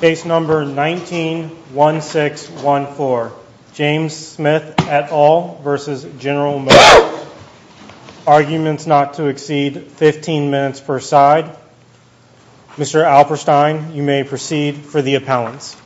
Case number 191614. James Smith et al. v. General Motors LLC. Arguments not to exceed 15 minutes per side. Mr. Alperstein, you may proceed for the appellants.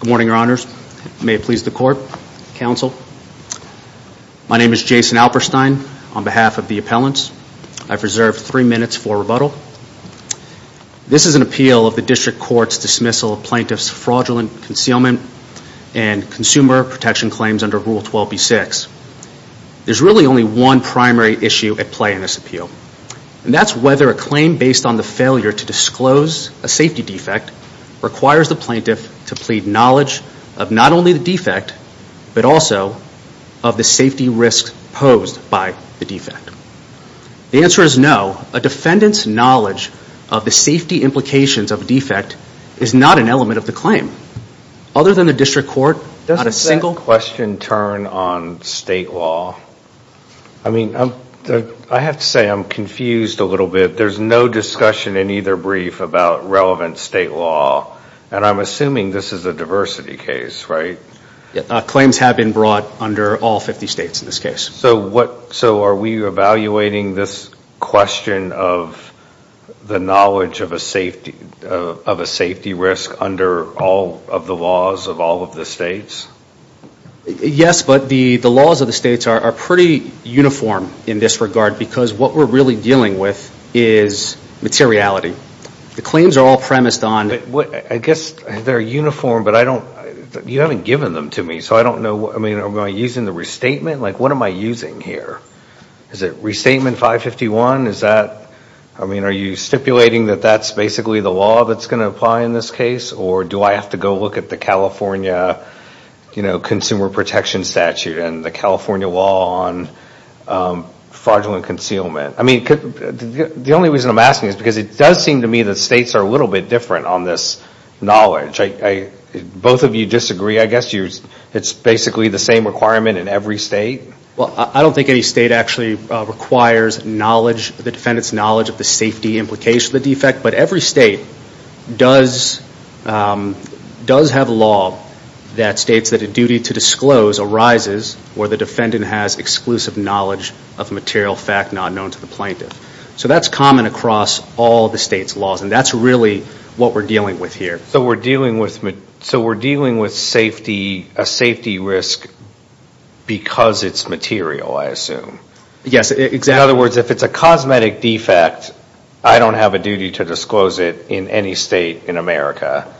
Good morning, your honors. May it please the court, counsel. My name is Jason Alperstein on behalf of the appellants. I've reserved three minutes for rebuttal. This is an appeal of the district court's dismissal of plaintiffs' fraudulent concealment and consumer protection claims under Rule 12b-6. There's really only one primary issue at play in this appeal, and that's whether a claim based on the failure to disclose a safety defect requires the plaintiff to plead knowledge of not only the defect, but also of the safety risks posed by the defect. The answer is no. A defendant's knowledge of the safety implications of a defect is not an element of the claim. Other than the district court, not a single... I'm confused a little bit. There's no discussion in either brief about relevant state law, and I'm assuming this is a diversity case, right? Claims have been brought under all 50 states in this case. So are we evaluating this question of the knowledge of a safety risk under all of the laws of all of the states? Yes, but the laws of the states are pretty uniform in this regard, because what we're really dealing with is materiality. The claims are all premised on... I guess they're uniform, but you haven't given them to me, so I don't know... Am I using the restatement? What am I using here? Is it Restatement 551? Are you stipulating that that's basically the law that's going to apply in this case, or do I have to go look at the California Consumer Protection Statute and the California Law on Fraudulent Concealment? The only reason I'm asking is because it does seem to me that states are a little bit different on this knowledge. Both of you disagree, I guess. It's basically the same requirement in every state? Well, I don't think any state actually requires knowledge, the defendant's knowledge, of the safety implications of the defect, but every defendant has exclusive knowledge of material fact not known to the plaintiff. So that's common across all the states' laws, and that's really what we're dealing with here. So we're dealing with a safety risk because it's material, I assume? Yes. In other words, if it's a cosmetic defect, I don't have a duty to disclose it in any state in America.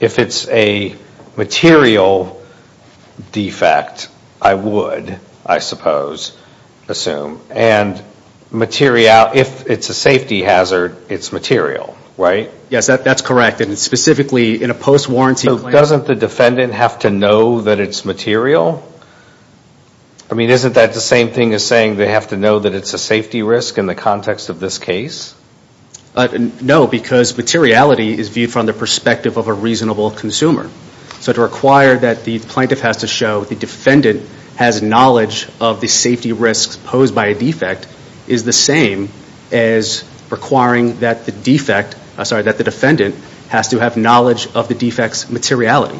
If it's a material defect, I would, I suppose, assume. And if it's a safety hazard, it's material, right? Yes, that's correct. And specifically, in a post-warranty claim... So doesn't the defendant have to know that it's material? I mean, isn't that the same thing as saying they have to know that it's a safety risk in the context of this case? No, because materiality is viewed from the perspective of a reasonable consumer. So to require that the plaintiff has to show the defendant has knowledge of the safety risks posed by a defect is the same as requiring that the defendant has to have knowledge of the defect's materiality.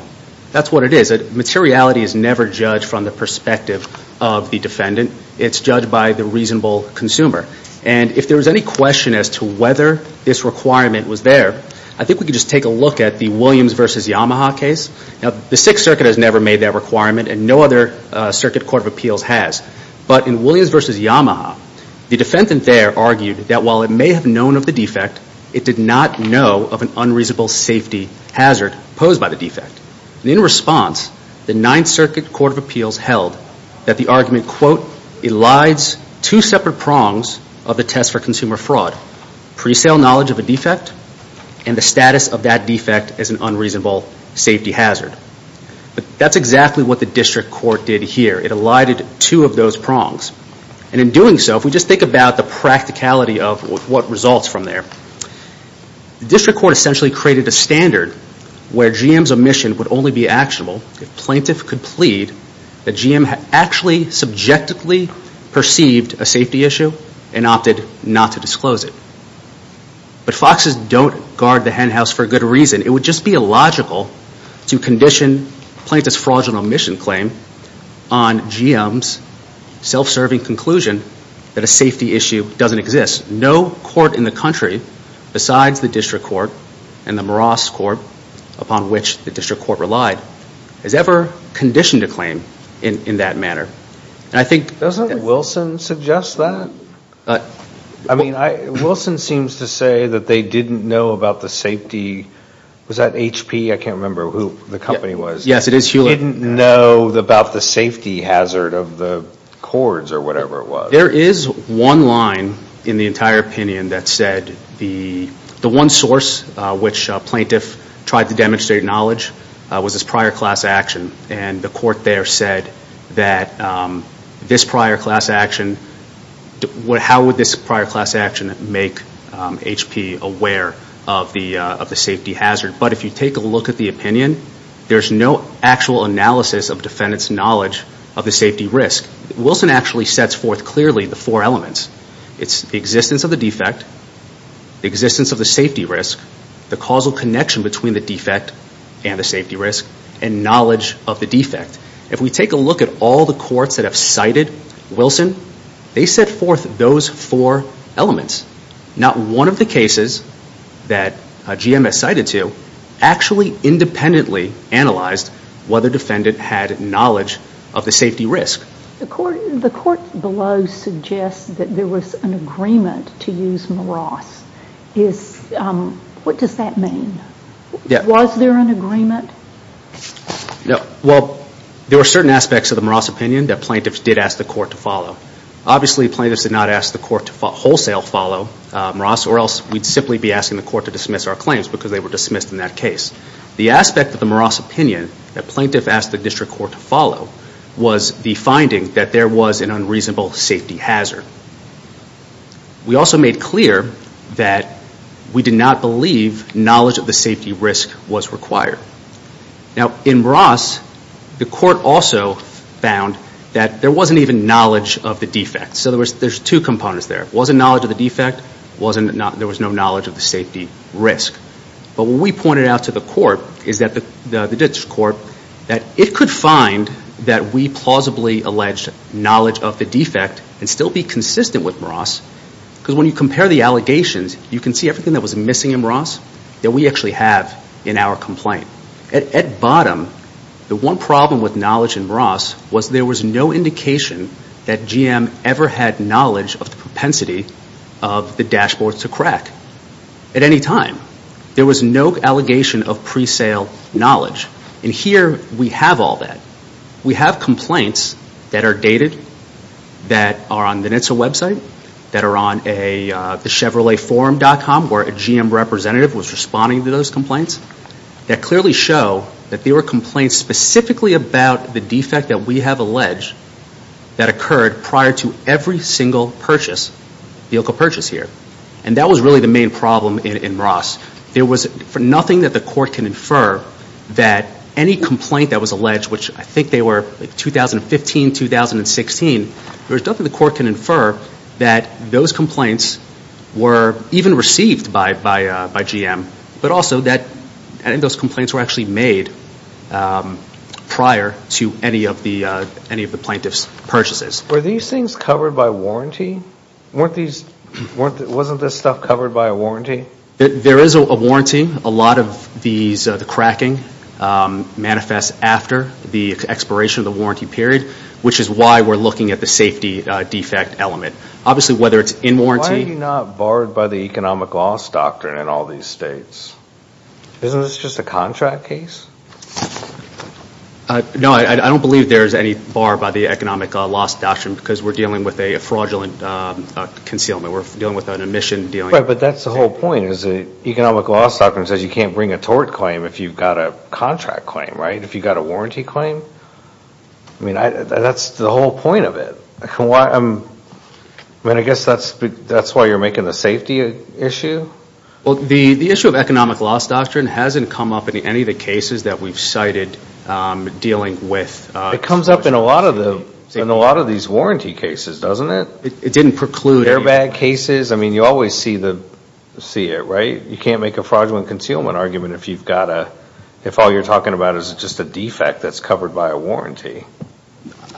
That's what it is. The materiality is never judged from the perspective of the defendant. It's judged by the reasonable consumer. And if there was any question as to whether this requirement was there, I think we could just take a look at the Williams v. Yamaha case. Now, the Sixth Circuit has never made that requirement and no other circuit court of appeals has. But in Williams v. Yamaha, the defendant there argued that while it may have known of the defect, it did not know of an unreasonable safety hazard posed by the defect. And in response, the Ninth Circuit Court of Appeals held that the argument, quote, elides two separate prongs of the test for consumer fraud. Pre-sale knowledge of a defect and the status of that defect as an unreasonable safety hazard. But that's exactly what the district court did here. It elided two of those prongs. And in doing so, if we just think about the practicality of what results from there, the district court essentially created a standard where GM's omission would only be actionable if plaintiff could plead that GM had actually subjectively perceived a safety issue and opted not to disclose it. But foxes don't guard the hen house for a good reason. It would just be illogical to condition plaintiff's fraudulent omission claim on GM's self-serving conclusion that a safety issue doesn't exist. No court in the country, besides the district court and the Moross court, upon which the district court relied, has ever conditioned a claim in that manner. And I think... Doesn't Wilson suggest that? I mean, Wilson seems to say that they didn't know about the safety... Was that HP? I can't remember who the company was. Yes, it is Hewlett. Didn't know about the safety hazard of the cords or whatever it was. There is one line in the entire opinion that said the one source which plaintiff tried to demonstrate knowledge was this prior class action. And the court there said that this prior class action... How would this prior class action make HP aware of the safety hazard? But if you take a look at the opinion, there's no actual analysis of defendant's knowledge of the safety risk. Wilson actually sets forth clearly the four elements. It's the existence of the defect, the existence of the safety risk, the causal connection between the defect and the safety risk, and knowledge of the defect. If we take a look at all the courts that have cited Wilson, they set forth those four elements. Not one of the cases that GMS cited to actually independently analyzed whether defendant had knowledge of the safety risk. The court below suggests that there was an agreement to use Moross. What does that mean? Was there an agreement? Well, there were certain aspects of the Moross opinion that plaintiffs did ask the court to follow. Obviously, plaintiffs did not ask the court to wholesale follow Moross or else we'd simply be asking the court to dismiss our claims because they were dismissed in that case. The aspect of the Moross opinion that plaintiffs asked the district court to follow was the finding that there was an unreasonable safety hazard. We also made clear that we did not believe knowledge of the safety risk was required. Now in Moross, the court also found that there wasn't even knowledge of the defect. So there's two components there. Wasn't knowledge of the defect, there was no knowledge of the safety risk. But what we pointed out to the court is that the district court that it could find that we plausibly alleged knowledge of the defect and still be consistent with Moross because when you compare the allegations, you can see everything that was missing in Moross that we actually have in our complaint. At bottom, the one problem with knowledge in Moross was there was no indication that there was knowledge of the propensity of the dashboards to crack at any time. There was no allegation of pre-sale knowledge and here we have all that. We have complaints that are dated, that are on the NHTSA website, that are on thechevroletforum.com where a GM representative was responding to those complaints that clearly show that there were complaints specifically about the defect that we have alleged that occurred prior to every single purchase, vehicle purchase here. And that was really the main problem in Moross. There was nothing that the court can infer that any complaint that was alleged, which I think they were 2015, 2016, there was nothing the court can infer that those complaints were even received by GM, but also that those were not included in any of the plaintiff's purchases. Were these things covered by warranty? Weren't these, wasn't this stuff covered by a warranty? There is a warranty. A lot of these, the cracking manifests after the expiration of the warranty period, which is why we're looking at the safety defect element. Obviously whether it's in warranty. Why are you not barred by the economic loss doctrine in all these states? Isn't this just a contract case? No, I don't believe there's any bar by the economic loss doctrine because we're dealing with a fraudulent concealment. We're dealing with an omission. But that's the whole point is the economic loss doctrine says you can't bring a tort claim if you've got a contract claim, right? If you've got a warranty claim? I mean, that's the whole point of it. I mean, I guess that's why you're making the safety issue? Well, the issue of economic loss doctrine hasn't come up in any of the cases that we've cited dealing with. It comes up in a lot of these warranty cases, doesn't it? It didn't preclude. Airbag cases. I mean, you always see it, right? You can't make a fraudulent concealment argument if you've got a, if all you're talking about is just a defect that's covered by a warranty.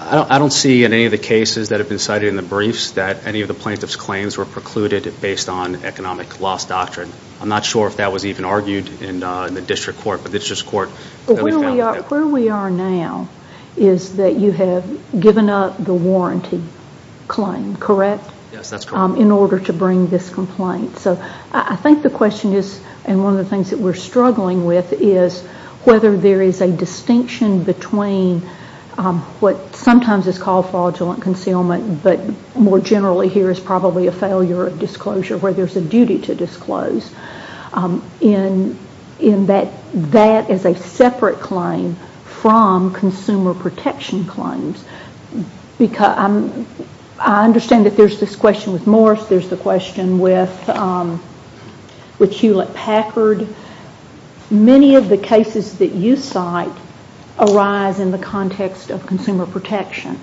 I don't see in any of the cases that have been cited in the briefs that any of the plaintiff's claims were precluded based on economic loss doctrine. I'm not sure if that was even argued in the district court, but the district court that we've found that. Where we are now is that you have given up the warranty claim, correct? Yes, that's correct. In order to bring this complaint. So I think the question is, and one of the things that we're struggling with, is whether there is a distinction between what sometimes is called fraudulent concealment, but more generally here is probably a failure of disclosure, where there's a duty to disclose, in that that is a separate claim from consumer protection claims. I understand that there's this question with Morris, there's the question with Hewlett-Packard. Many of the cases that you cite arise in the context of consumer protection,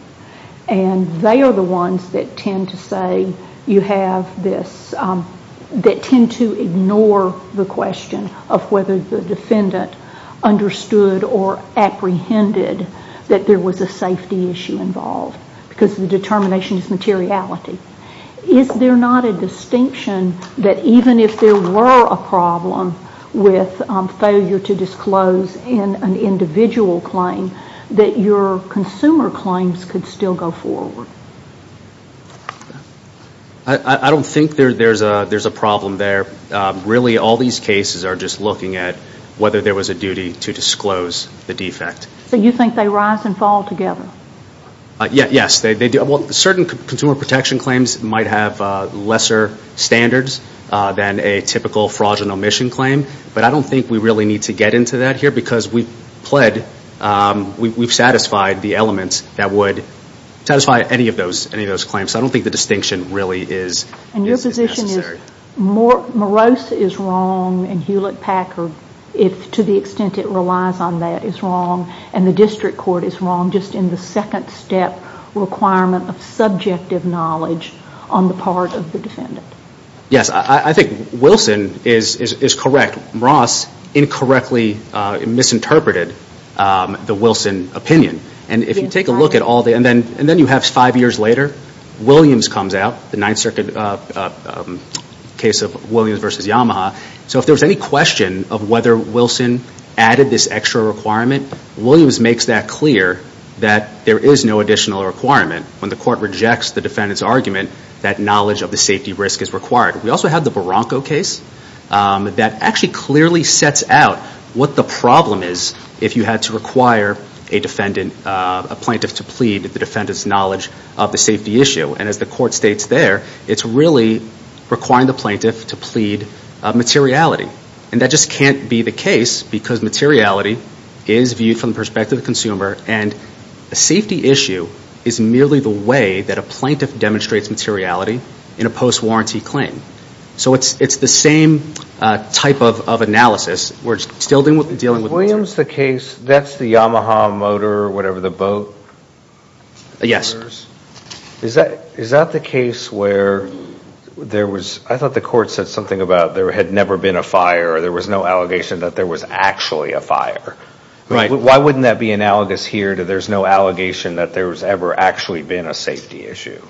and they are the ones that tend to say you have this, that tend to ignore the question of whether the defendant understood or apprehended that there was a safety issue involved, because the determination is materiality. Is there not a distinction that even if there were a problem with failure to disclose in an individual claim, that your consumer claims could still go forward? I don't think there's a problem there. Really, all these cases are just looking at whether there was a duty to disclose the defect. So you think they rise and fall together? Yes. Certain consumer protection claims might have lesser standards than a typical fraudulent omission claim, but I don't think we really need to get into that here, because we've satisfied the elements that would satisfy any of those claims. I don't think the distinction really is necessary. And your position is Morris is wrong and Hewlett-Packard, to the extent it relies on that, is wrong, and the district court is wrong, just in the second step requirement of subjective knowledge on the part of the defendant. Yes. I think Wilson is correct. Ross incorrectly misinterpreted the Wilson opinion. And if you take a look at all the... And then you have five years later, Williams comes out, the Ninth Circuit case of Williams v. Yamaha. So if there was any question of whether Wilson added this extra requirement, Williams makes that clear that there is no additional requirement. When the court rejects the defendant's argument, that knowledge of the safety risk is required. We also have the Barranco case that actually clearly sets out what the problem is if you had to require a plaintiff to plead the defendant's knowledge of the safety issue. And as the court states there, it's really requiring the plaintiff to plead materiality. And that just can't be the case because materiality is viewed from the perspective of the consumer and the safety issue is merely the way that a plaintiff demonstrates materiality in a post-warranty claim. So it's the same type of analysis. We're still dealing with materiality. Is Williams the case, that's the Yamaha motor or whatever, the boat? Yes. Is that the case where there was... I thought the court said something about there had never been a fire or there was no allegation that there was actually a fire. Why wouldn't that be analogous here to there's no allegation that there's ever actually been a safety issue?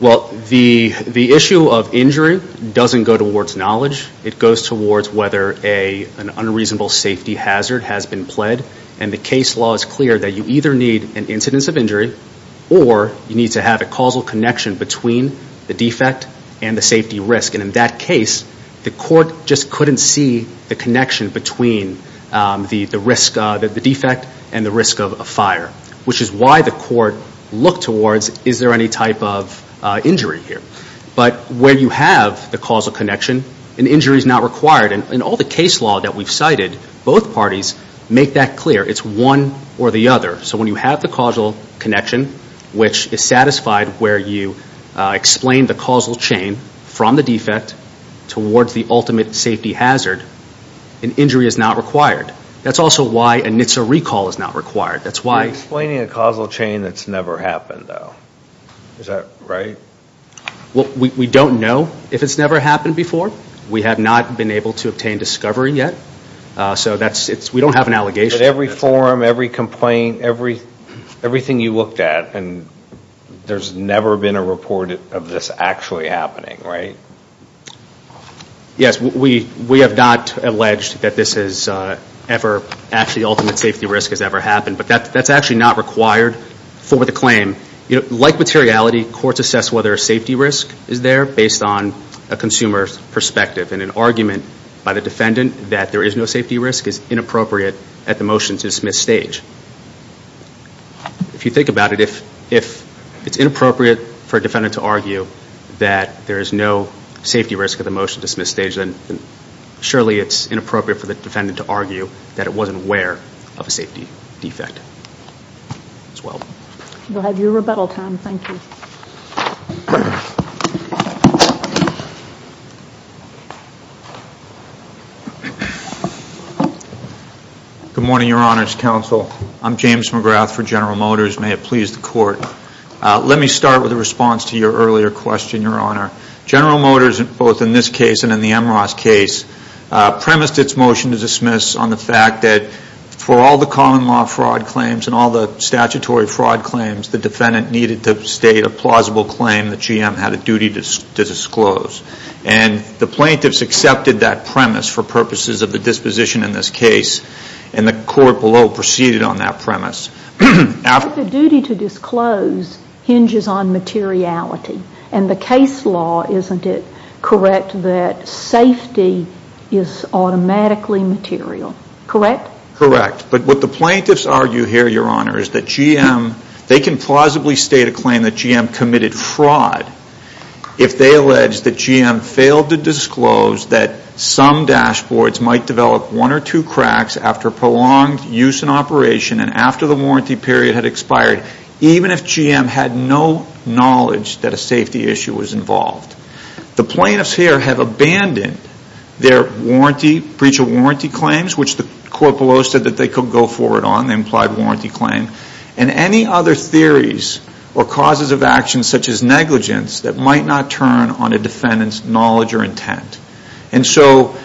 Well, the issue of injury doesn't go towards knowledge. It goes towards whether an unreasonable safety hazard has been pled. And the case law is clear that you either need an incidence of injury or you need to have a causal connection between the defect and the safety risk. And in that case, the court just couldn't see the connection between the defect and the risk of a fire, which is why the court looked towards, is there any type of injury here? But when you have the causal connection, an injury is not required. In all the case law that we've cited, both parties make that clear. It's one or the other. So when you have the causal connection, which is satisfied where you explain the causal chain from the defect towards the ultimate safety hazard, an injury is not required. That's also why a NHTSA recall is not required. You're explaining a causal chain that's never happened, though. Is that right? We don't know if it's never happened before. We have not been able to obtain discovery yet. So we don't have an allegation. But every forum, every complaint, everything you looked at, and there's never been a report of this actually happening, right? Yes. We have not alleged that this is ever actually ultimate safety risk has ever happened. But that's actually not required for the claim. Like materiality, courts assess whether a safety risk is there based on a consumer's perspective. And an argument by the defendant that there is no safety risk is inappropriate at the motion-to-dismiss stage. If you think about it, if it's inappropriate for a defendant to argue that there is no safety risk at the motion-to-dismiss stage, then surely it's inappropriate for the defendant to argue that it wasn't aware of a safety defect as well. We'll have your rebuttal time. Thank you. Good morning, Your Honors Counsel. I'm James McGrath for General Motors. May it please the Court. Let me start with a response to your earlier question, Your Honor. General Motors, both in this case and in the Amros case, premised its motion-to-dismiss on the fact that for all the common law fraud claims and all the statutory fraud claims the defendant needed to state a plausible claim the GM had a duty to disclose. And the plaintiffs accepted that premise for purposes of the disposition in this case, and the Court below proceeded on that premise. But the duty to disclose hinges on materiality. And the case law, isn't it correct that safety is automatically material? Correct? Correct. But what the plaintiffs argue here, Your Honor, is that GM, they can plausibly state a claim that GM committed fraud if they allege that GM failed to disclose that some dashboards might develop one or two cracks after prolonged use and operation and after the warranty period had expired, even if GM had no knowledge that a safety issue was involved. The plaintiffs here have abandoned their breach of warranty claims, which the Court below said that they could go forward on, the implied warranty claim, and any other theories or causes of action such as negligence that might not turn on a defendant's knowledge or intent. And so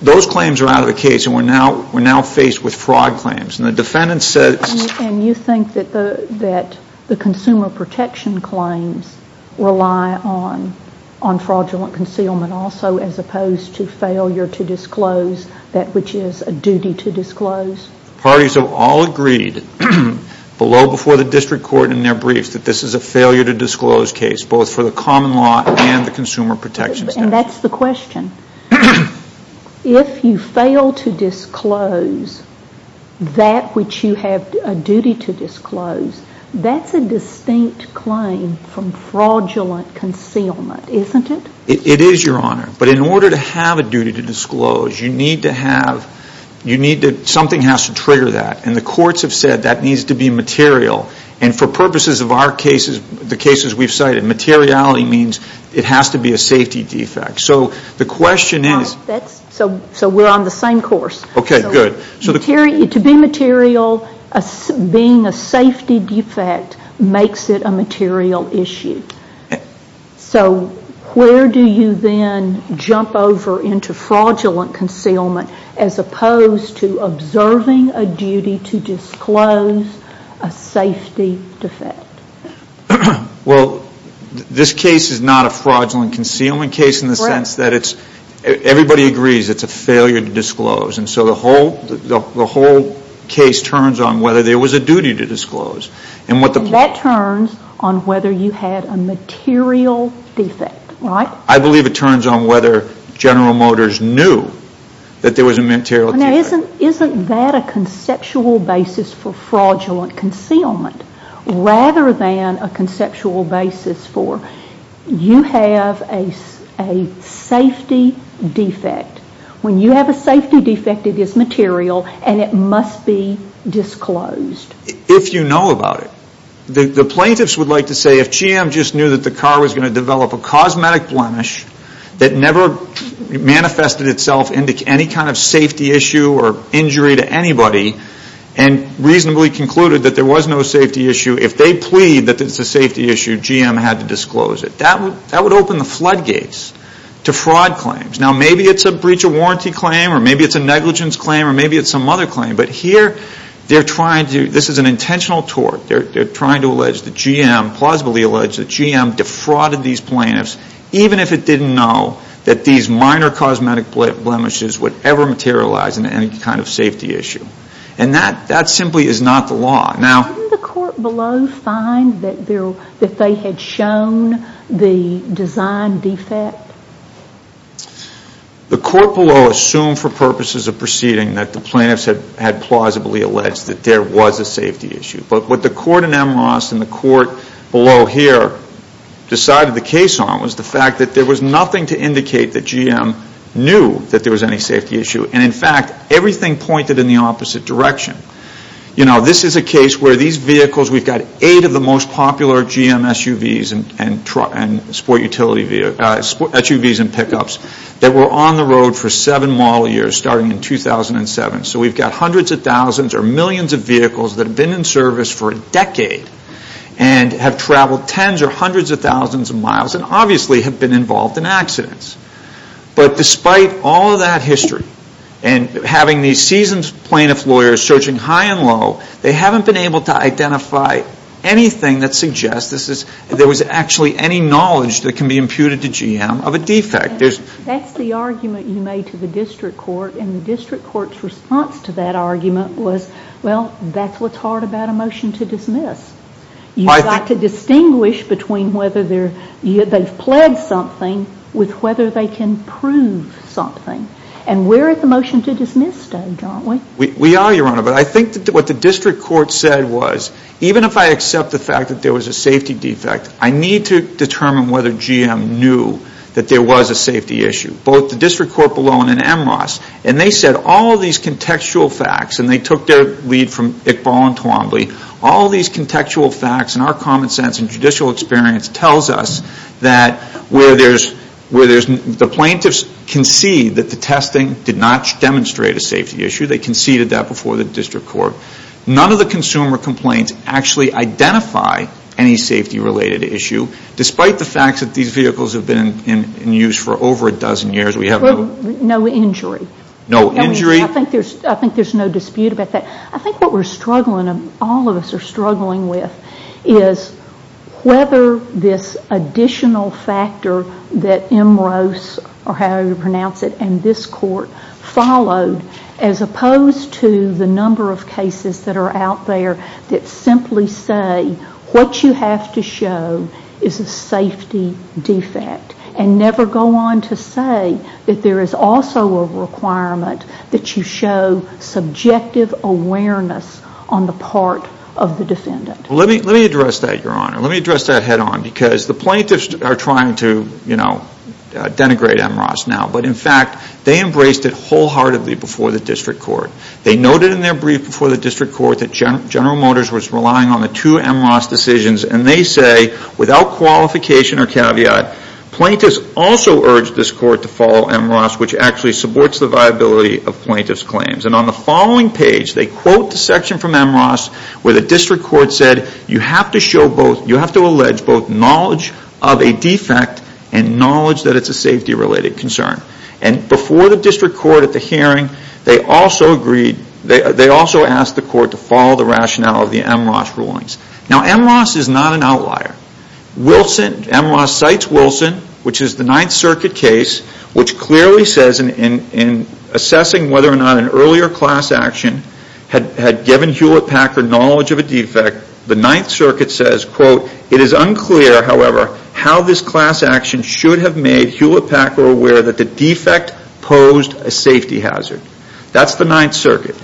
those claims are out of the case, and we're now faced with fraud claims. And the defendant says And you think that the consumer protection claims rely on fraudulent concealment also as opposed to failure to disclose that which is a duty to disclose? Parties have all agreed below before the district court in their briefs that this is a failure to disclose case, both for the common law and the consumer protection statute. And that's the question. If you fail to disclose that which you have a duty to disclose, that's a distinct claim from fraudulent concealment, isn't it? It is, Your Honor. But in order to have a duty to disclose, you need to have, you need to, something has to trigger that. And the courts have said that needs to be material. And for purposes of our cases, the cases we've cited, materiality means it has to be a safety defect. So the question is Well, that's, so we're on the same course. Okay, good. So to be material, being a safety defect makes it a material issue. So where do you then jump over into fraudulent concealment as opposed to observing a duty to disclose a safety defect? Well, this case is not a fraudulent concealment case in the sense that it's, everybody agrees it's a failure to disclose. And so the whole, the whole case turns on whether there was a duty to disclose. And what the And that turns on whether you had a material defect, right? I believe it turns on whether General Motors knew that there was a material defect. Now, isn't, isn't that a conceptual basis for fraudulent concealment rather than a conceptual basis for you have a safety defect? When you have a safety defect, it is material and it must be disclosed. If you know about it. The plaintiffs would like to say if GM just knew that the car was going to develop a cosmetic blemish that never manifested itself into any kind of safety issue or injury to anybody and reasonably concluded that there was no safety issue, if they plead that it's a safety issue, GM had to disclose it. That would, that would open the floodgates to fraud claims. Now maybe it's a breach of warranty claim or maybe it's a negligence claim or maybe it's some other claim. But here they're trying to, this is an intentional tort. They're trying to allege that GM, plausibly allege that GM defrauded these plaintiffs even if it didn't know that these minor cosmetic blemishes would ever materialize into any kind of safety issue. And that, that simply is not the law. Now. Didn't the court below find that there, that they had shown the design defect? The court below assumed for purposes of proceeding that the plaintiffs had, had plausibly alleged that there was a safety issue. But what the court in Amherst and the court below here decided the case on was the fact that there was nothing to indicate that GM knew that there was any safety issue. And in fact, everything pointed in the opposite direction. You know, this is a case where these vehicles, we've got eight of the most popular GM SUVs and, and sport utility, SUVs and pickups that were on the road for seven model years starting in 2007. So we've got hundreds of thousands or millions of vehicles that have been in service for a decade and have traveled tens or hundreds of thousands of miles and obviously have been involved in accidents. But despite all of that history and having these seasoned plaintiff lawyers searching high and low, they haven't been able to identify anything that suggests this is, there was actually any knowledge that can be imputed to GM of a defect. That's the argument you made to the district court and the district court's response to that argument was, well, that's what's hard about a motion to dismiss. You've got to distinguish between whether they're, they've pledged something with whether they can prove something. And we're at the motion to dismiss stage, aren't we? We are, Your Honor. But I think that what the district court said was, even if I accept the fact that there was a safety defect, I need to determine whether GM knew that there was a safety issue, both the district court below and in MRAS. And they said all of these contextual facts, and they took their lead from Iqbal and Twombly, all of these contextual facts and our common sense and judicial experience tells us that where there's, the plaintiffs concede that the testing did not demonstrate a safety issue. They conceded that before the district court. None of the consumer complaints actually identify any safety-related issue, despite the fact that these vehicles have been in use for over a dozen years. We have no... No injury. No injury? I think there's no dispute about that. I think what we're struggling, all of us are struggling with is whether this additional factor that MROS, or however you pronounce it, and this court followed, as opposed to the number of cases that are out there that simply say, what you have to show is a safety defect, and never go on to say that there is also a requirement that you show subjective awareness on the part of the defendant. Let me address that, Your Honor. Let me address that head on, because the plaintiffs are trying to, you know, denigrate MROS now, but in fact, they embraced it wholeheartedly before the district court. They noted in their brief before the district court that General Motors was relying on the two MROS decisions, and they say, without qualification or caveat, plaintiffs also urged this court to follow MROS, which actually supports the viability of plaintiffs' claims. On the following page, they quote the section from MROS where the district court said, you have to show both, you have to allege both knowledge of a defect and knowledge that it's a safety-related concern. Before the district court at the hearing, they also agreed, they agreed to the MROS rulings. Now, MROS is not an outlier. Wilson, MROS cites Wilson, which is the Ninth Circuit case, which clearly says in assessing whether or not an earlier class action had given Hewlett-Packard knowledge of a defect, the Ninth Circuit says, quote, it is unclear, however, how this class action should have made Hewlett-Packard aware that the defect posed a safety hazard. That's the Ninth Circuit.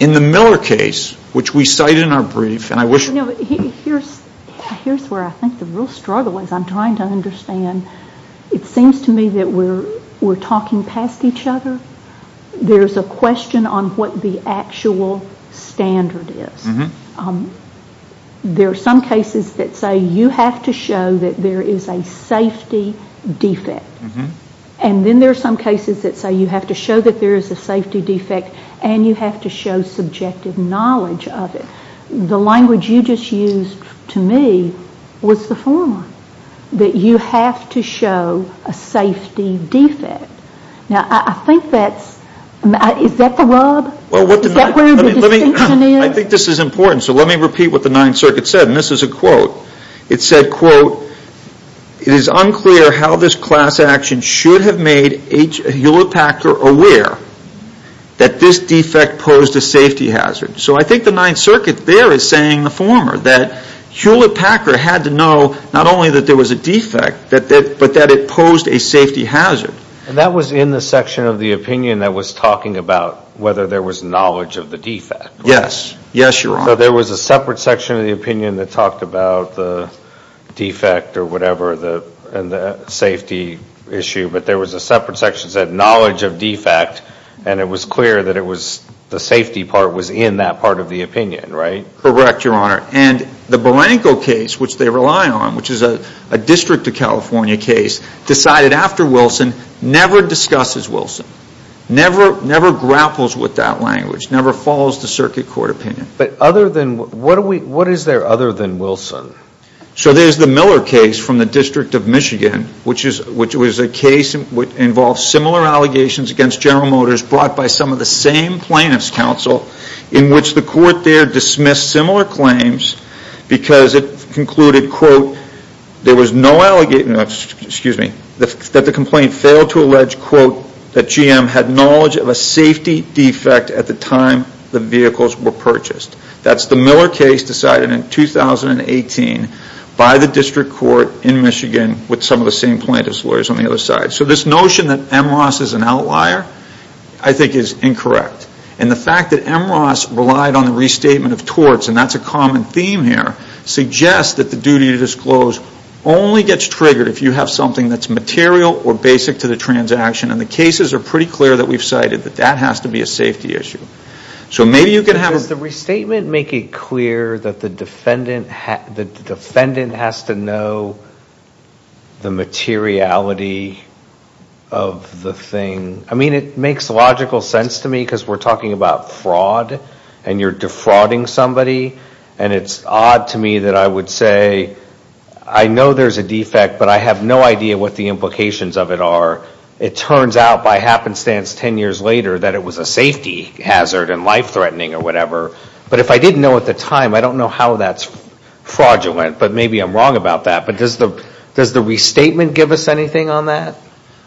In the Miller case, which we cite in our brief, and I wish... You know, here's where I think the real struggle is. I'm trying to understand. It seems to me that we're talking past each other. There's a question on what the actual standard is. There are some cases that say you have to show that there is a safety defect. And then there are some cases that say you have to show that there is a safety defect and you have to show subjective knowledge of it. The language you just used to me was the former. That you have to show a safety defect. Now, I think that's... Is that the rub? Is that where the distinction is? I think this is important. So let me repeat what the Ninth Circuit said. And this is a way to make Hewlett-Packard aware that this defect posed a safety hazard. So I think the Ninth Circuit there is saying the former. That Hewlett-Packard had to know not only that there was a defect, but that it posed a safety hazard. And that was in the section of the opinion that was talking about whether there was knowledge of the defect. Yes. Yes, Your Honor. So there was a separate section of the opinion that talked about the defect or whatever, and the safety issue. But there was a separate section that said knowledge of defect. And it was clear that it was the safety part was in that part of the opinion, right? Correct, Your Honor. And the Barranco case, which they rely on, which is a District of California case, decided after Wilson, never discusses Wilson. Never grapples with that language. Never follows the Circuit Court opinion. But other than... What is there other than Wilson? So there is the Miller case from the District of Michigan, which was a case that involved similar allegations against General Motors brought by some of the same plaintiffs' counsel in which the court there dismissed similar claims because it concluded, quote, there was no allegation, excuse me, that the complaint failed to allege, quote, that GM had knowledge of a safety defect at the time the vehicles were purchased. That is the Miller case decided in 2018 by the District Court in Michigan with some of the same plaintiffs' lawyers on the other side. So this notion that M. Ross is an outlier, I think, is incorrect. And the fact that M. Ross relied on the restatement of torts, and that is a common theme here, suggests that the duty to disclose only gets triggered if you have something that is material or basic to the transaction. And the cases are pretty clear that we have cited that that has to be a safety issue. So maybe you can have... Does the restatement make it clear that the defendant has to know the materiality of the thing? I mean, it makes logical sense to me because we are talking about fraud and you are defrauding somebody. And it is odd to me that I would say I know there is a defect but I have no idea what the implications of it are. It turns out by happenstance ten years later that it was a safety hazard and life-threatening or whatever. But if I didn't know at the time, I don't know how that is fraudulent. But maybe I am wrong about that. But does the restatement give us anything on that?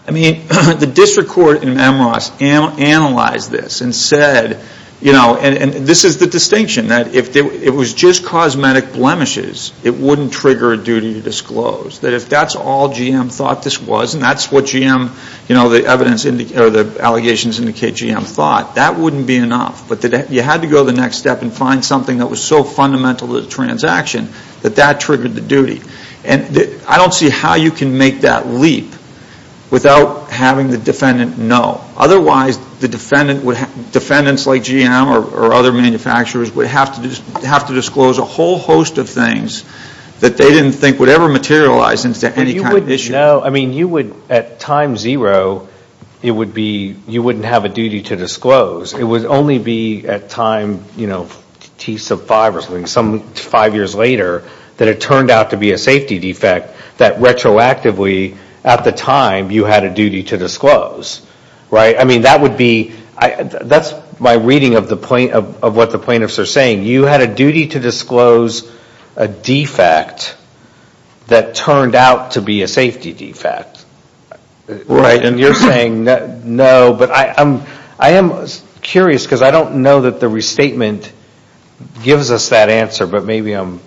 I mean, the District Court and M. Ross analyzed this and said, you know, and this is the distinction that if it was just cosmetic blemishes, it wouldn't trigger a duty to disclose. That if that is all GM thought this was and that is what GM, you know, the evidence or the allegations indicate GM thought, that wouldn't be enough. But you had to go to the next step and find something that was so fundamental to the transaction that that triggered the duty. And I don't see how you can make that leap without having the defendant know. Otherwise the defendant would have, defendants like GM or other manufacturers would have to disclose a whole host of things that they didn't think would ever materialize into any kind of issue. But you would know, I mean, you would at time zero, it would be, you wouldn't have a duty to disclose. It would only be at time, you know, T sub 5 or something, some five years later that it turned out to be a safety defect that retroactively at the time you had a duty to disclose. Right? I mean, that would be, that's my reading of the plaintiff, of what a duty to disclose a defect that turned out to be a safety defect. Right. And you're saying no, but I am curious because I don't know that the restatement gives us that answer, but maybe I'm.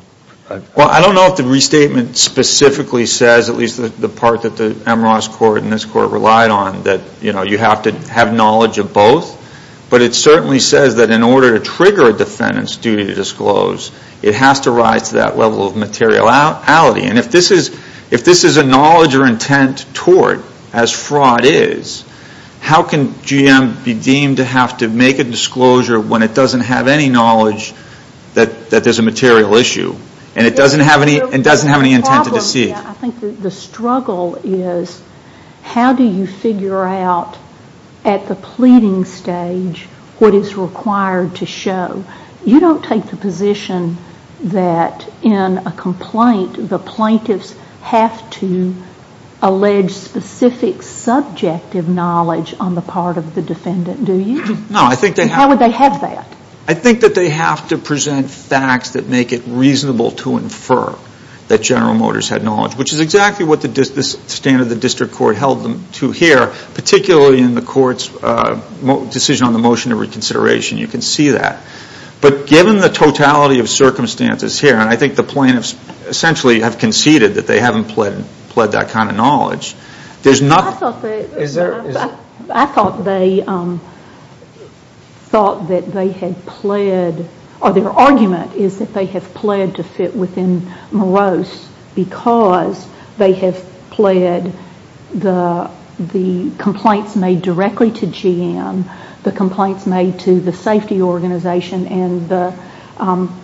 Well, I don't know if the restatement specifically says at least the part that the Amros court and this court relied on that, you know, you have to have knowledge of both, but it certainly says that in order to trigger a defendant's duty to disclose, it has to rise to that level of materiality. And if this is, if this is a knowledge or intent toward as fraud is, how can GM be deemed to have to make a disclosure when it doesn't have any knowledge that there's a material issue and it doesn't have any, it doesn't have any intent to deceive. I think the struggle is how do you figure out at the pleading stage what is required to show? You don't take the position that in a complaint, the plaintiffs have to allege specific subjective knowledge on the part of the defendant, do you? No, I think they have. How would they have that? I think that they have to present facts that make it reasonable to infer that General Motors had knowledge, which is exactly what the stand of the district court held them to here, particularly in the court's decision on the motion of reconsideration. You can see that. But given the totality of circumstances here, and I think the plaintiffs essentially have conceded that they haven't pled that kind of knowledge, there's nothing. I thought they thought that they had pled, or their argument is that they have pled to fit within Morose because they have pled the complaints made directly to GM, the complaints made to the safety organization and the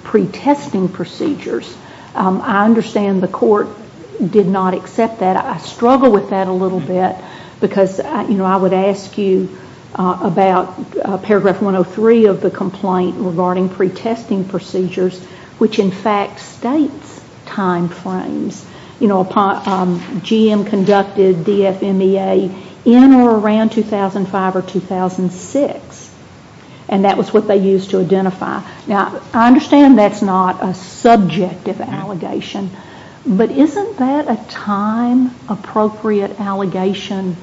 pre-testing procedures. I understand the court did not accept that. I struggle with that a little bit because I would ask you about paragraph 103 of the complaint regarding pre-testing procedures, which in fact states time frames. GM conducted DFMEA in or around 2005 or 2006, and that was what they used to identify. I understand that's not a subjective allegation, but isn't that a time-appropriate allegation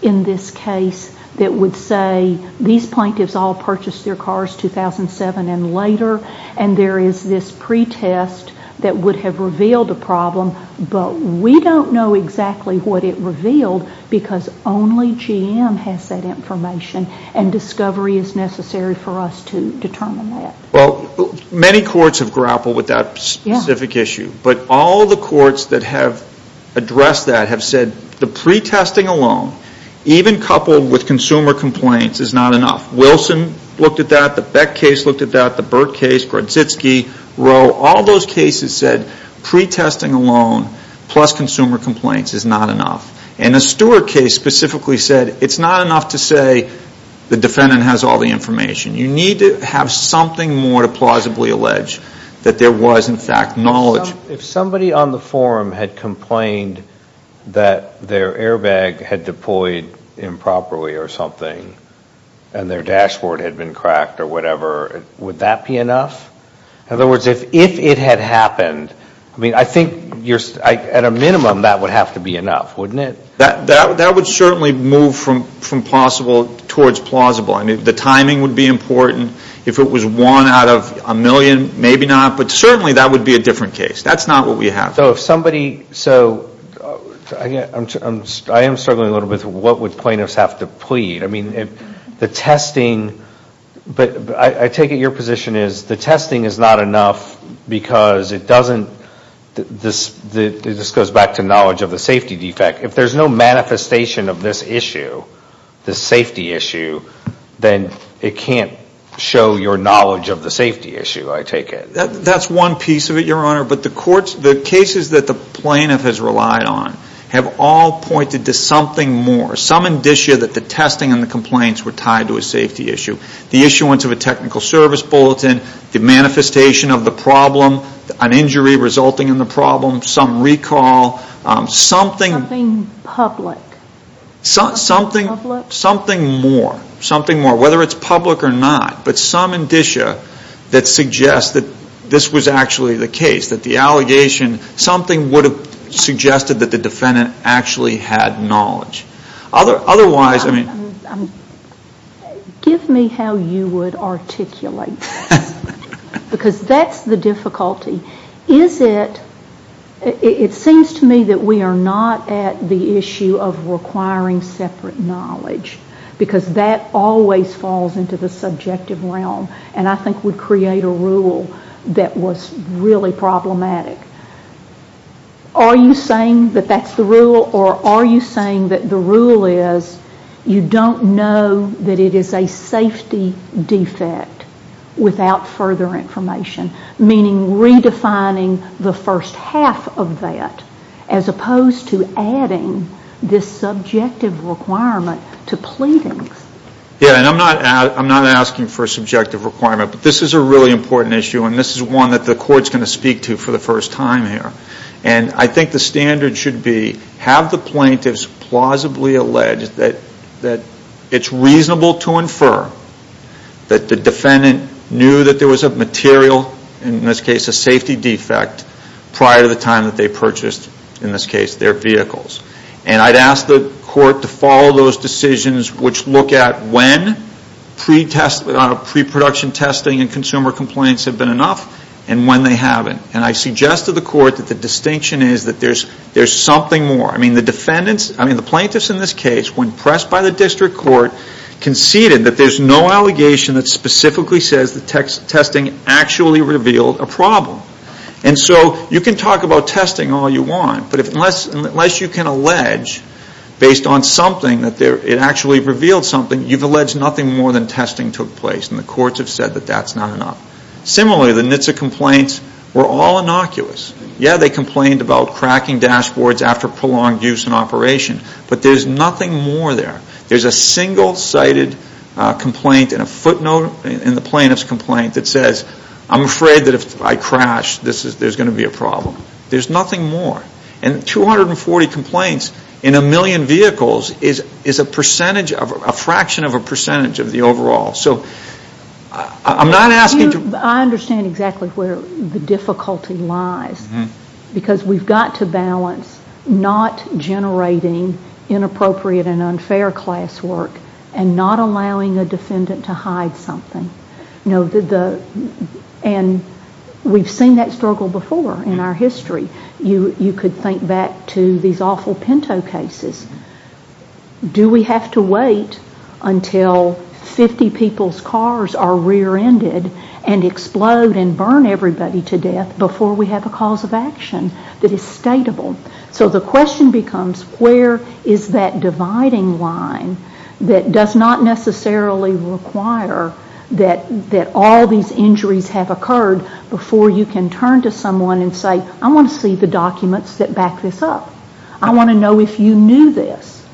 in this case that would say these plaintiffs all purchased their cars 2007 and later, and there is this pre-test that would have revealed a problem, but we don't know exactly what it revealed because only GM has that information and discovery is necessary for us to determine that. Many courts have grappled with that specific issue, but all the courts that have addressed that have said the pre-testing alone, even coupled with consumer complaints, is not enough. Wilson looked at that, the Beck case looked at that, the Burt case, Grodczynski, Rowe, all those cases said pre-testing alone plus consumer complaints is not enough. The Stewart case specifically said it's not enough to say the defendant has all the information. You need to have something more to plausibly allege that there was in fact knowledge. If somebody on the forum had complained that their airbag had deployed improperly or something, and their dashboard had been cracked or whatever, would that be enough? In other words, if it had happened, I mean, I think at a minimum that would have to be enough, wouldn't it? That would certainly move from possible towards plausible. I mean, the timing would be important. If it was one out of a million, maybe not, but certainly that would be a different case. That's not what we have. So if somebody, so I am struggling a little bit with what would plaintiffs have to plead. I mean, the testing, but I take it your position is the testing is not enough because it doesn't, this goes back to knowledge of the safety defect. If there is no manifestation of this issue, the safety issue, then it can't show your knowledge of the safety issue, I take it. That's one piece of it, Your Honor, but the courts, the cases that the plaintiff has relied on have all pointed to something more. Some indicia that the testing and the complaints were tied to a safety issue. The issuance of a technical service bulletin, the manifestation of the problem, an injury resulting in the problem, some recall, something. Something public. Something more, something more, whether it's public or not, but some indicia that suggest that this was actually the case, that the allegation, something would have suggested that the defendant actually had knowledge. Otherwise, I mean. Give me how you would articulate this because that's the difficulty. Is it, it seems to me that we are not at the issue of requiring separate knowledge because that always falls into the subjective realm and I think would create a rule that was really problematic. Are you saying that that's the rule or are you saying that the rule is you don't know that it is a safety defect without further information, meaning redefining the first half of that as opposed to adding this subjective requirement to pleadings? Yeah, and I'm not asking for a subjective requirement, but this is a really important issue and this is one that the court is going to speak to for the first time here. And I think the standard should be, have the plaintiffs plausibly alleged that it's reasonable to infer that the defendant knew that there was a material, in this case a safety defect, prior to the time that they purchased, in this case, their vehicles. And I'd ask the court to follow those decisions which look at when pre-production testing and consumer complaints have been enough and when they haven't. And I suggest to the court that the distinction is that there's something more. I mean the plaintiffs in this case, when pressed by the district court, conceded that there's no allegation that specifically says that testing actually revealed a problem. And so you can talk about testing all you want, but unless you can allege based on something that it actually revealed something, you've alleged nothing more than testing took place and the courts have said that that's not enough. Similarly, the NHTSA complaints were all innocuous. Yeah, they complained about cracking dashboards after prolonged use and operation, but there's nothing more there. There's a single-sided complaint and a footnote in the plaintiff's complaint that says, I'm afraid that if I crash, there's going to be a problem. There's nothing more. And 240 complaints in a million vehicles is a fraction of a percentage of the overall. I understand exactly where the difficulty lies, because we've got to balance not generating inappropriate and unfair class work and not allowing a defendant to hide something. And we've seen that struggle before in our history. You could think back to these awful Pinto cases. Do we have to wait until 50 people's cars are rear-ended and explode and burn everybody to death before we have a cause of action that is stateable? So the question becomes, where is that dividing line that does not necessarily require that all these injuries have occurred before you can turn to someone and say, I want to see the documents that back this up. I want to know if you knew this.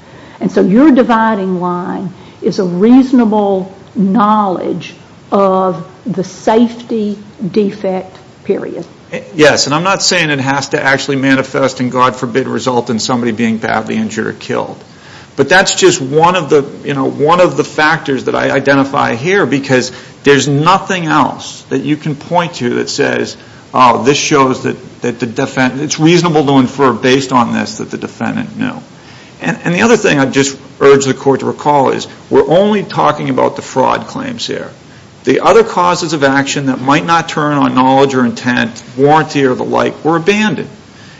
And so your dividing line is a reasonable knowledge of the safety defect period. Yes, and I'm not saying it has to actually manifest and God forbid result in somebody being badly injured or killed. But that's just one of the factors that I identify here, because there's nothing else that you can point to that says, oh, this shows that it's reasonable to infer based on this that the defendant knew. And the other thing I'd just urge the Court to recall is, we're only talking about the fraud claims here. The other causes of action that might not turn on knowledge or intent, warranty or the like, were abandoned.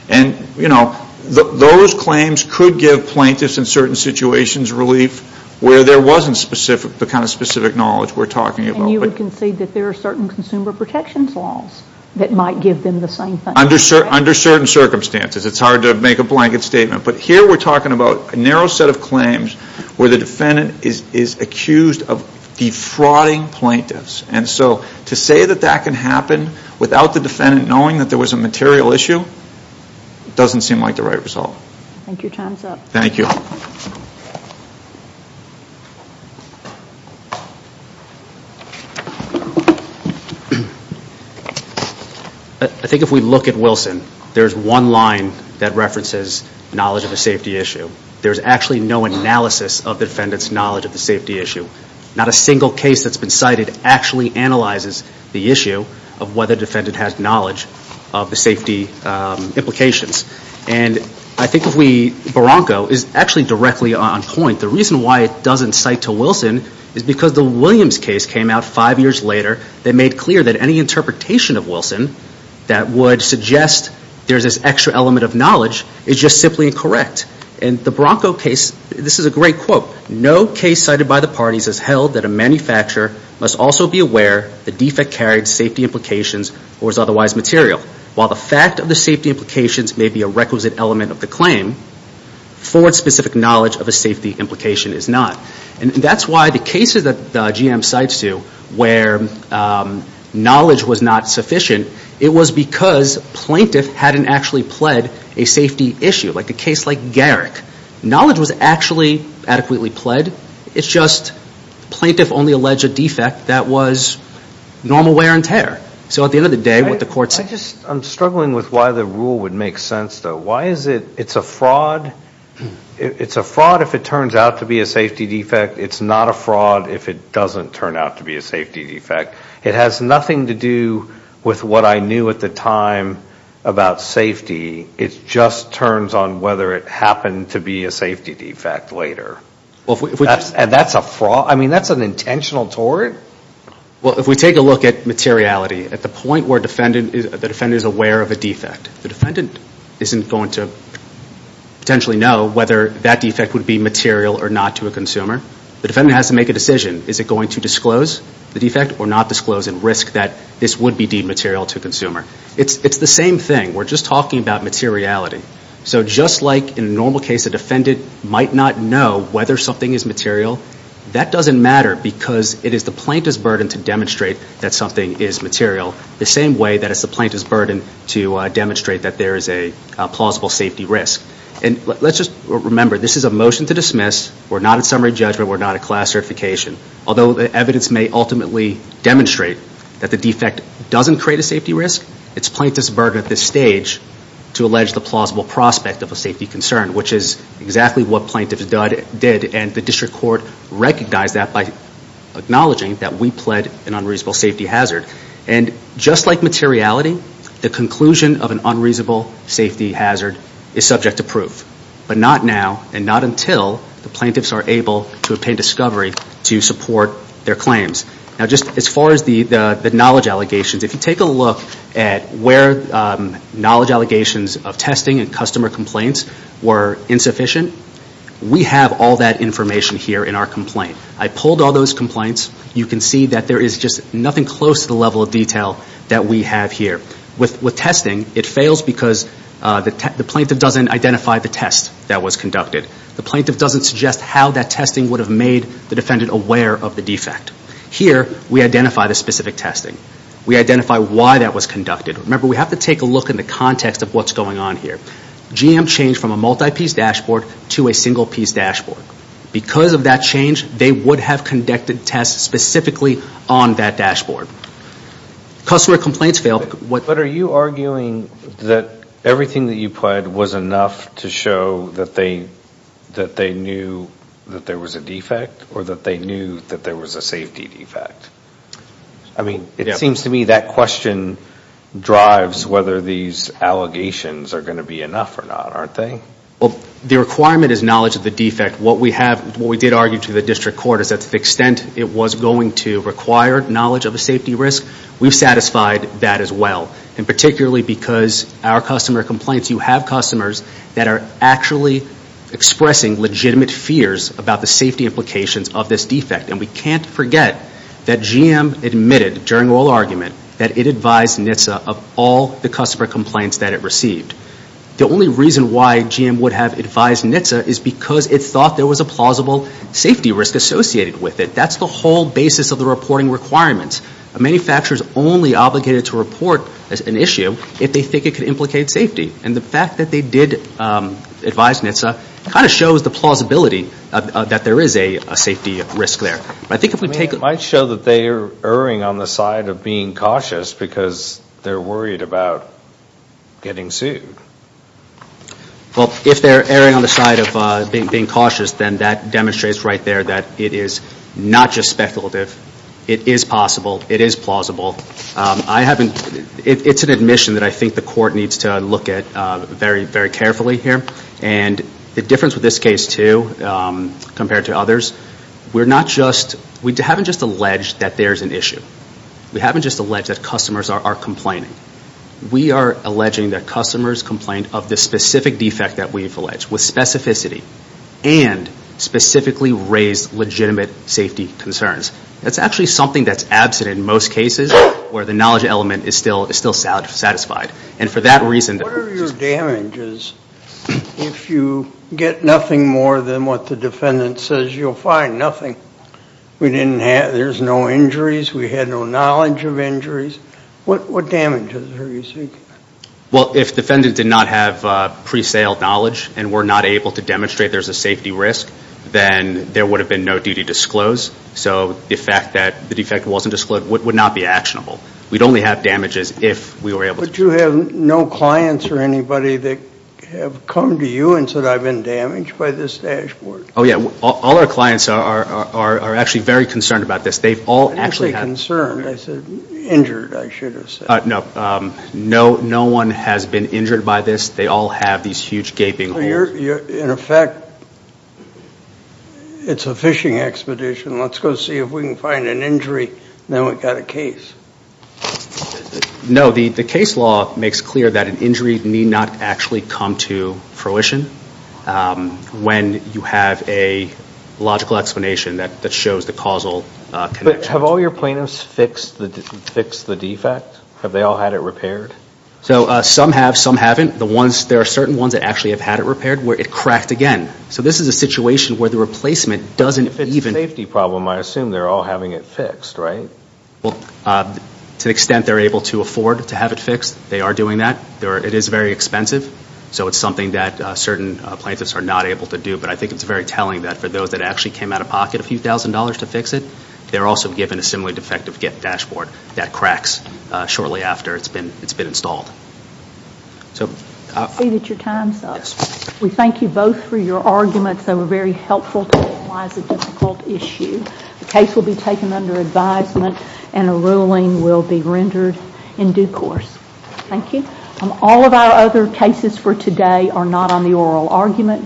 And those claims could give plaintiffs in certain situations relief where there wasn't the kind of specific knowledge we're talking about. And you would concede that there are certain consumer protection laws that might give them the same thing. Under certain circumstances. It's hard to make a blanket statement. But here we're talking about a narrow set of claims where the defendant is accused of defrauding plaintiffs. And so to say that that can happen without the defendant knowing that there was a material issue doesn't seem like the right result. Thank you. Time's up. I think if we look at Wilson, there's one line that references knowledge of a safety issue. There's actually no analysis of the defendant's knowledge of the safety issue. Not a single case that's been cited actually analyzes the issue of whether the defendant has knowledge of the safety implications. And I think if we, Barranco is actually directly on point. The reason why it doesn't cite to Wilson is because the Williams case came out five years later that made clear that any interpretation of Wilson that would suggest there's this extra element of knowledge is just simply incorrect. And the Barranco case, this is a great quote, no case cited by the parties has held that a manufacturer must also be aware the defect carried safety implications or is otherwise material. While the fact of the safety implications may be a requisite element of the claim, Ford's specific knowledge of a safety implication is not. And that's why the cases that GM cites to where knowledge was not sufficient, it was because plaintiff hadn't actually pled a safety issue. Like a case like Garrick, knowledge was actually adequately pled, it's just plaintiff only alleged a defect that was normal wear and tear. So at the end of the day, what the court said. I'm struggling with why the rule would make sense, though. Why is it it's a fraud? It's a fraud if it turns out to be a safety defect. It's not a fraud if it doesn't turn out to be a safety defect. It has nothing to do with what I knew at the time about safety. It just turns on whether it happened to be a safety defect later. That's a fraud? I mean, that's an intentional tort? Well, if we take a look at materiality, at the point where the defendant is aware of a defect, the defendant isn't going to potentially know whether that defect would be material or not to a consumer. The defendant has to make a decision. Is it going to disclose the defect or not disclose and risk that this would be deemed material to a consumer? It's the same thing. We're just talking about materiality. So just like in a normal case, a defendant might not know whether something is material, that doesn't matter because it is the plaintiff's burden to demonstrate that something is material the same way that it's the plaintiff's burden to demonstrate that there is a plausible safety risk. And let's just remember, this is a motion to dismiss. We're not a summary judgment. We're not a class certification. Although the evidence may ultimately demonstrate that the defect doesn't create a safety risk, it's plaintiff's burden at this stage to allege the plausible prospect of a safety concern, which is exactly what plaintiffs did and the district court recognized that by acknowledging that we pled an unreasonable safety hazard. And just like materiality, the conclusion of an unreasonable safety hazard is subject to proof. But not now and not until the plaintiffs are able to obtain discovery to support their claims. Now just as far as the knowledge allegations, if you take a look at where knowledge allegations of testing and customer complaints were insufficient, we have all that information here in our complaint. I pulled all those complaints. You can see that there is just nothing close to the level of detail that we have here. With testing, it fails because the plaintiff doesn't identify the test that was conducted. The plaintiff doesn't suggest how that testing would have made the defendant aware of the defect. Here, we identify the specific testing. We identify why that was conducted. Remember, we have to take a look at the context of what's going on here. GM changed from a multi-piece dashboard to a single piece dashboard. Because of that change, they would have conducted tests specifically on that dashboard. Customer complaints failed. But are you arguing that everything that you pled was enough to show that they knew that there was a defect or that they knew that there was a safety defect? It seems to me that question drives whether these allegations are going to be enough or not, aren't they? The requirement is knowledge of the defect. What we did argue to the district court is that to the extent it was going to require knowledge of a safety risk, we've satisfied that as well. Particularly because our customer complaints, you have customers that are actually expressing legitimate fears about the safety implications of this defect. And we can't forget that GM admitted during oral argument that it advised NHTSA of all the customer complaints that it received. The only reason why GM would have advised NHTSA is because it thought there was a plausible safety risk associated with it. That's the whole basis of the reporting requirements. Manufacturers only obligated to report an issue if they think it could implicate safety. And the fact that they did advise NHTSA kind of shows the plausibility that there is a safety risk there. It might show that they are erring on the side of being cautious because they're worried about getting sued. Well, if they're erring on the side of being cautious, then that demonstrates right there that it is not just speculative. It is possible. It is plausible. It's an admission that I think the court needs to look at very, very carefully here. And the difference with this case, too, compared to others, we haven't just alleged that there's an issue. We haven't just alleged that customers are complaining. We are alleging that customers complained of the specific defect that we've alleged with specificity and specifically raised legitimate safety concerns. That's actually something that's absent in most cases where the knowledge element is still satisfied. What are your damages if you get nothing more than what the defendant says you'll find? Nothing. We didn't have, there's no injuries. We had no knowledge of injuries. What damages are you seeking? Well, if the defendant did not have pre-sale knowledge and were not able to demonstrate there's a safety risk, then there would have been no duty disclosed. So the fact that the defect wasn't disclosed would not be actionable. We'd only have damages if we were able to prove it. Did you have no clients or anybody that have come to you and said, I've been damaged by this dashboard? Oh, yeah. All our clients are actually very concerned about this. They've all actually had... What do you say concerned? I said injured, I should have said. No. No one has been injured by this. They all have these huge gaping holes. So you're, in effect, it's a fishing expedition. Let's go see if we can find an injury, then we've got a case. No. The case law makes clear that an injury need not actually come to fruition when you have a logical explanation that shows the causal connection. Have all your plaintiffs fixed the defect? Have they all had it repaired? So some have, some haven't. There are certain ones that actually have had it repaired where it cracked again. So this is a situation where the replacement doesn't even... If it's a safety problem, I assume they're all having it fixed, right? Well, to the extent they're able to afford to have it fixed, they are doing that. It is very expensive. So it's something that certain plaintiffs are not able to do. But I think it's very telling that for those that actually came out of pocket a few thousand dollars to fix it, they're also given a similarly defective dashboard that cracks shortly after it's been installed. I see that your time's up. We thank you both for your arguments that were very helpful to analyze a difficult issue. The case will be taken under advisement and a ruling will be rendered in due course. Thank you. All of our other cases for today are not on the oral argument document.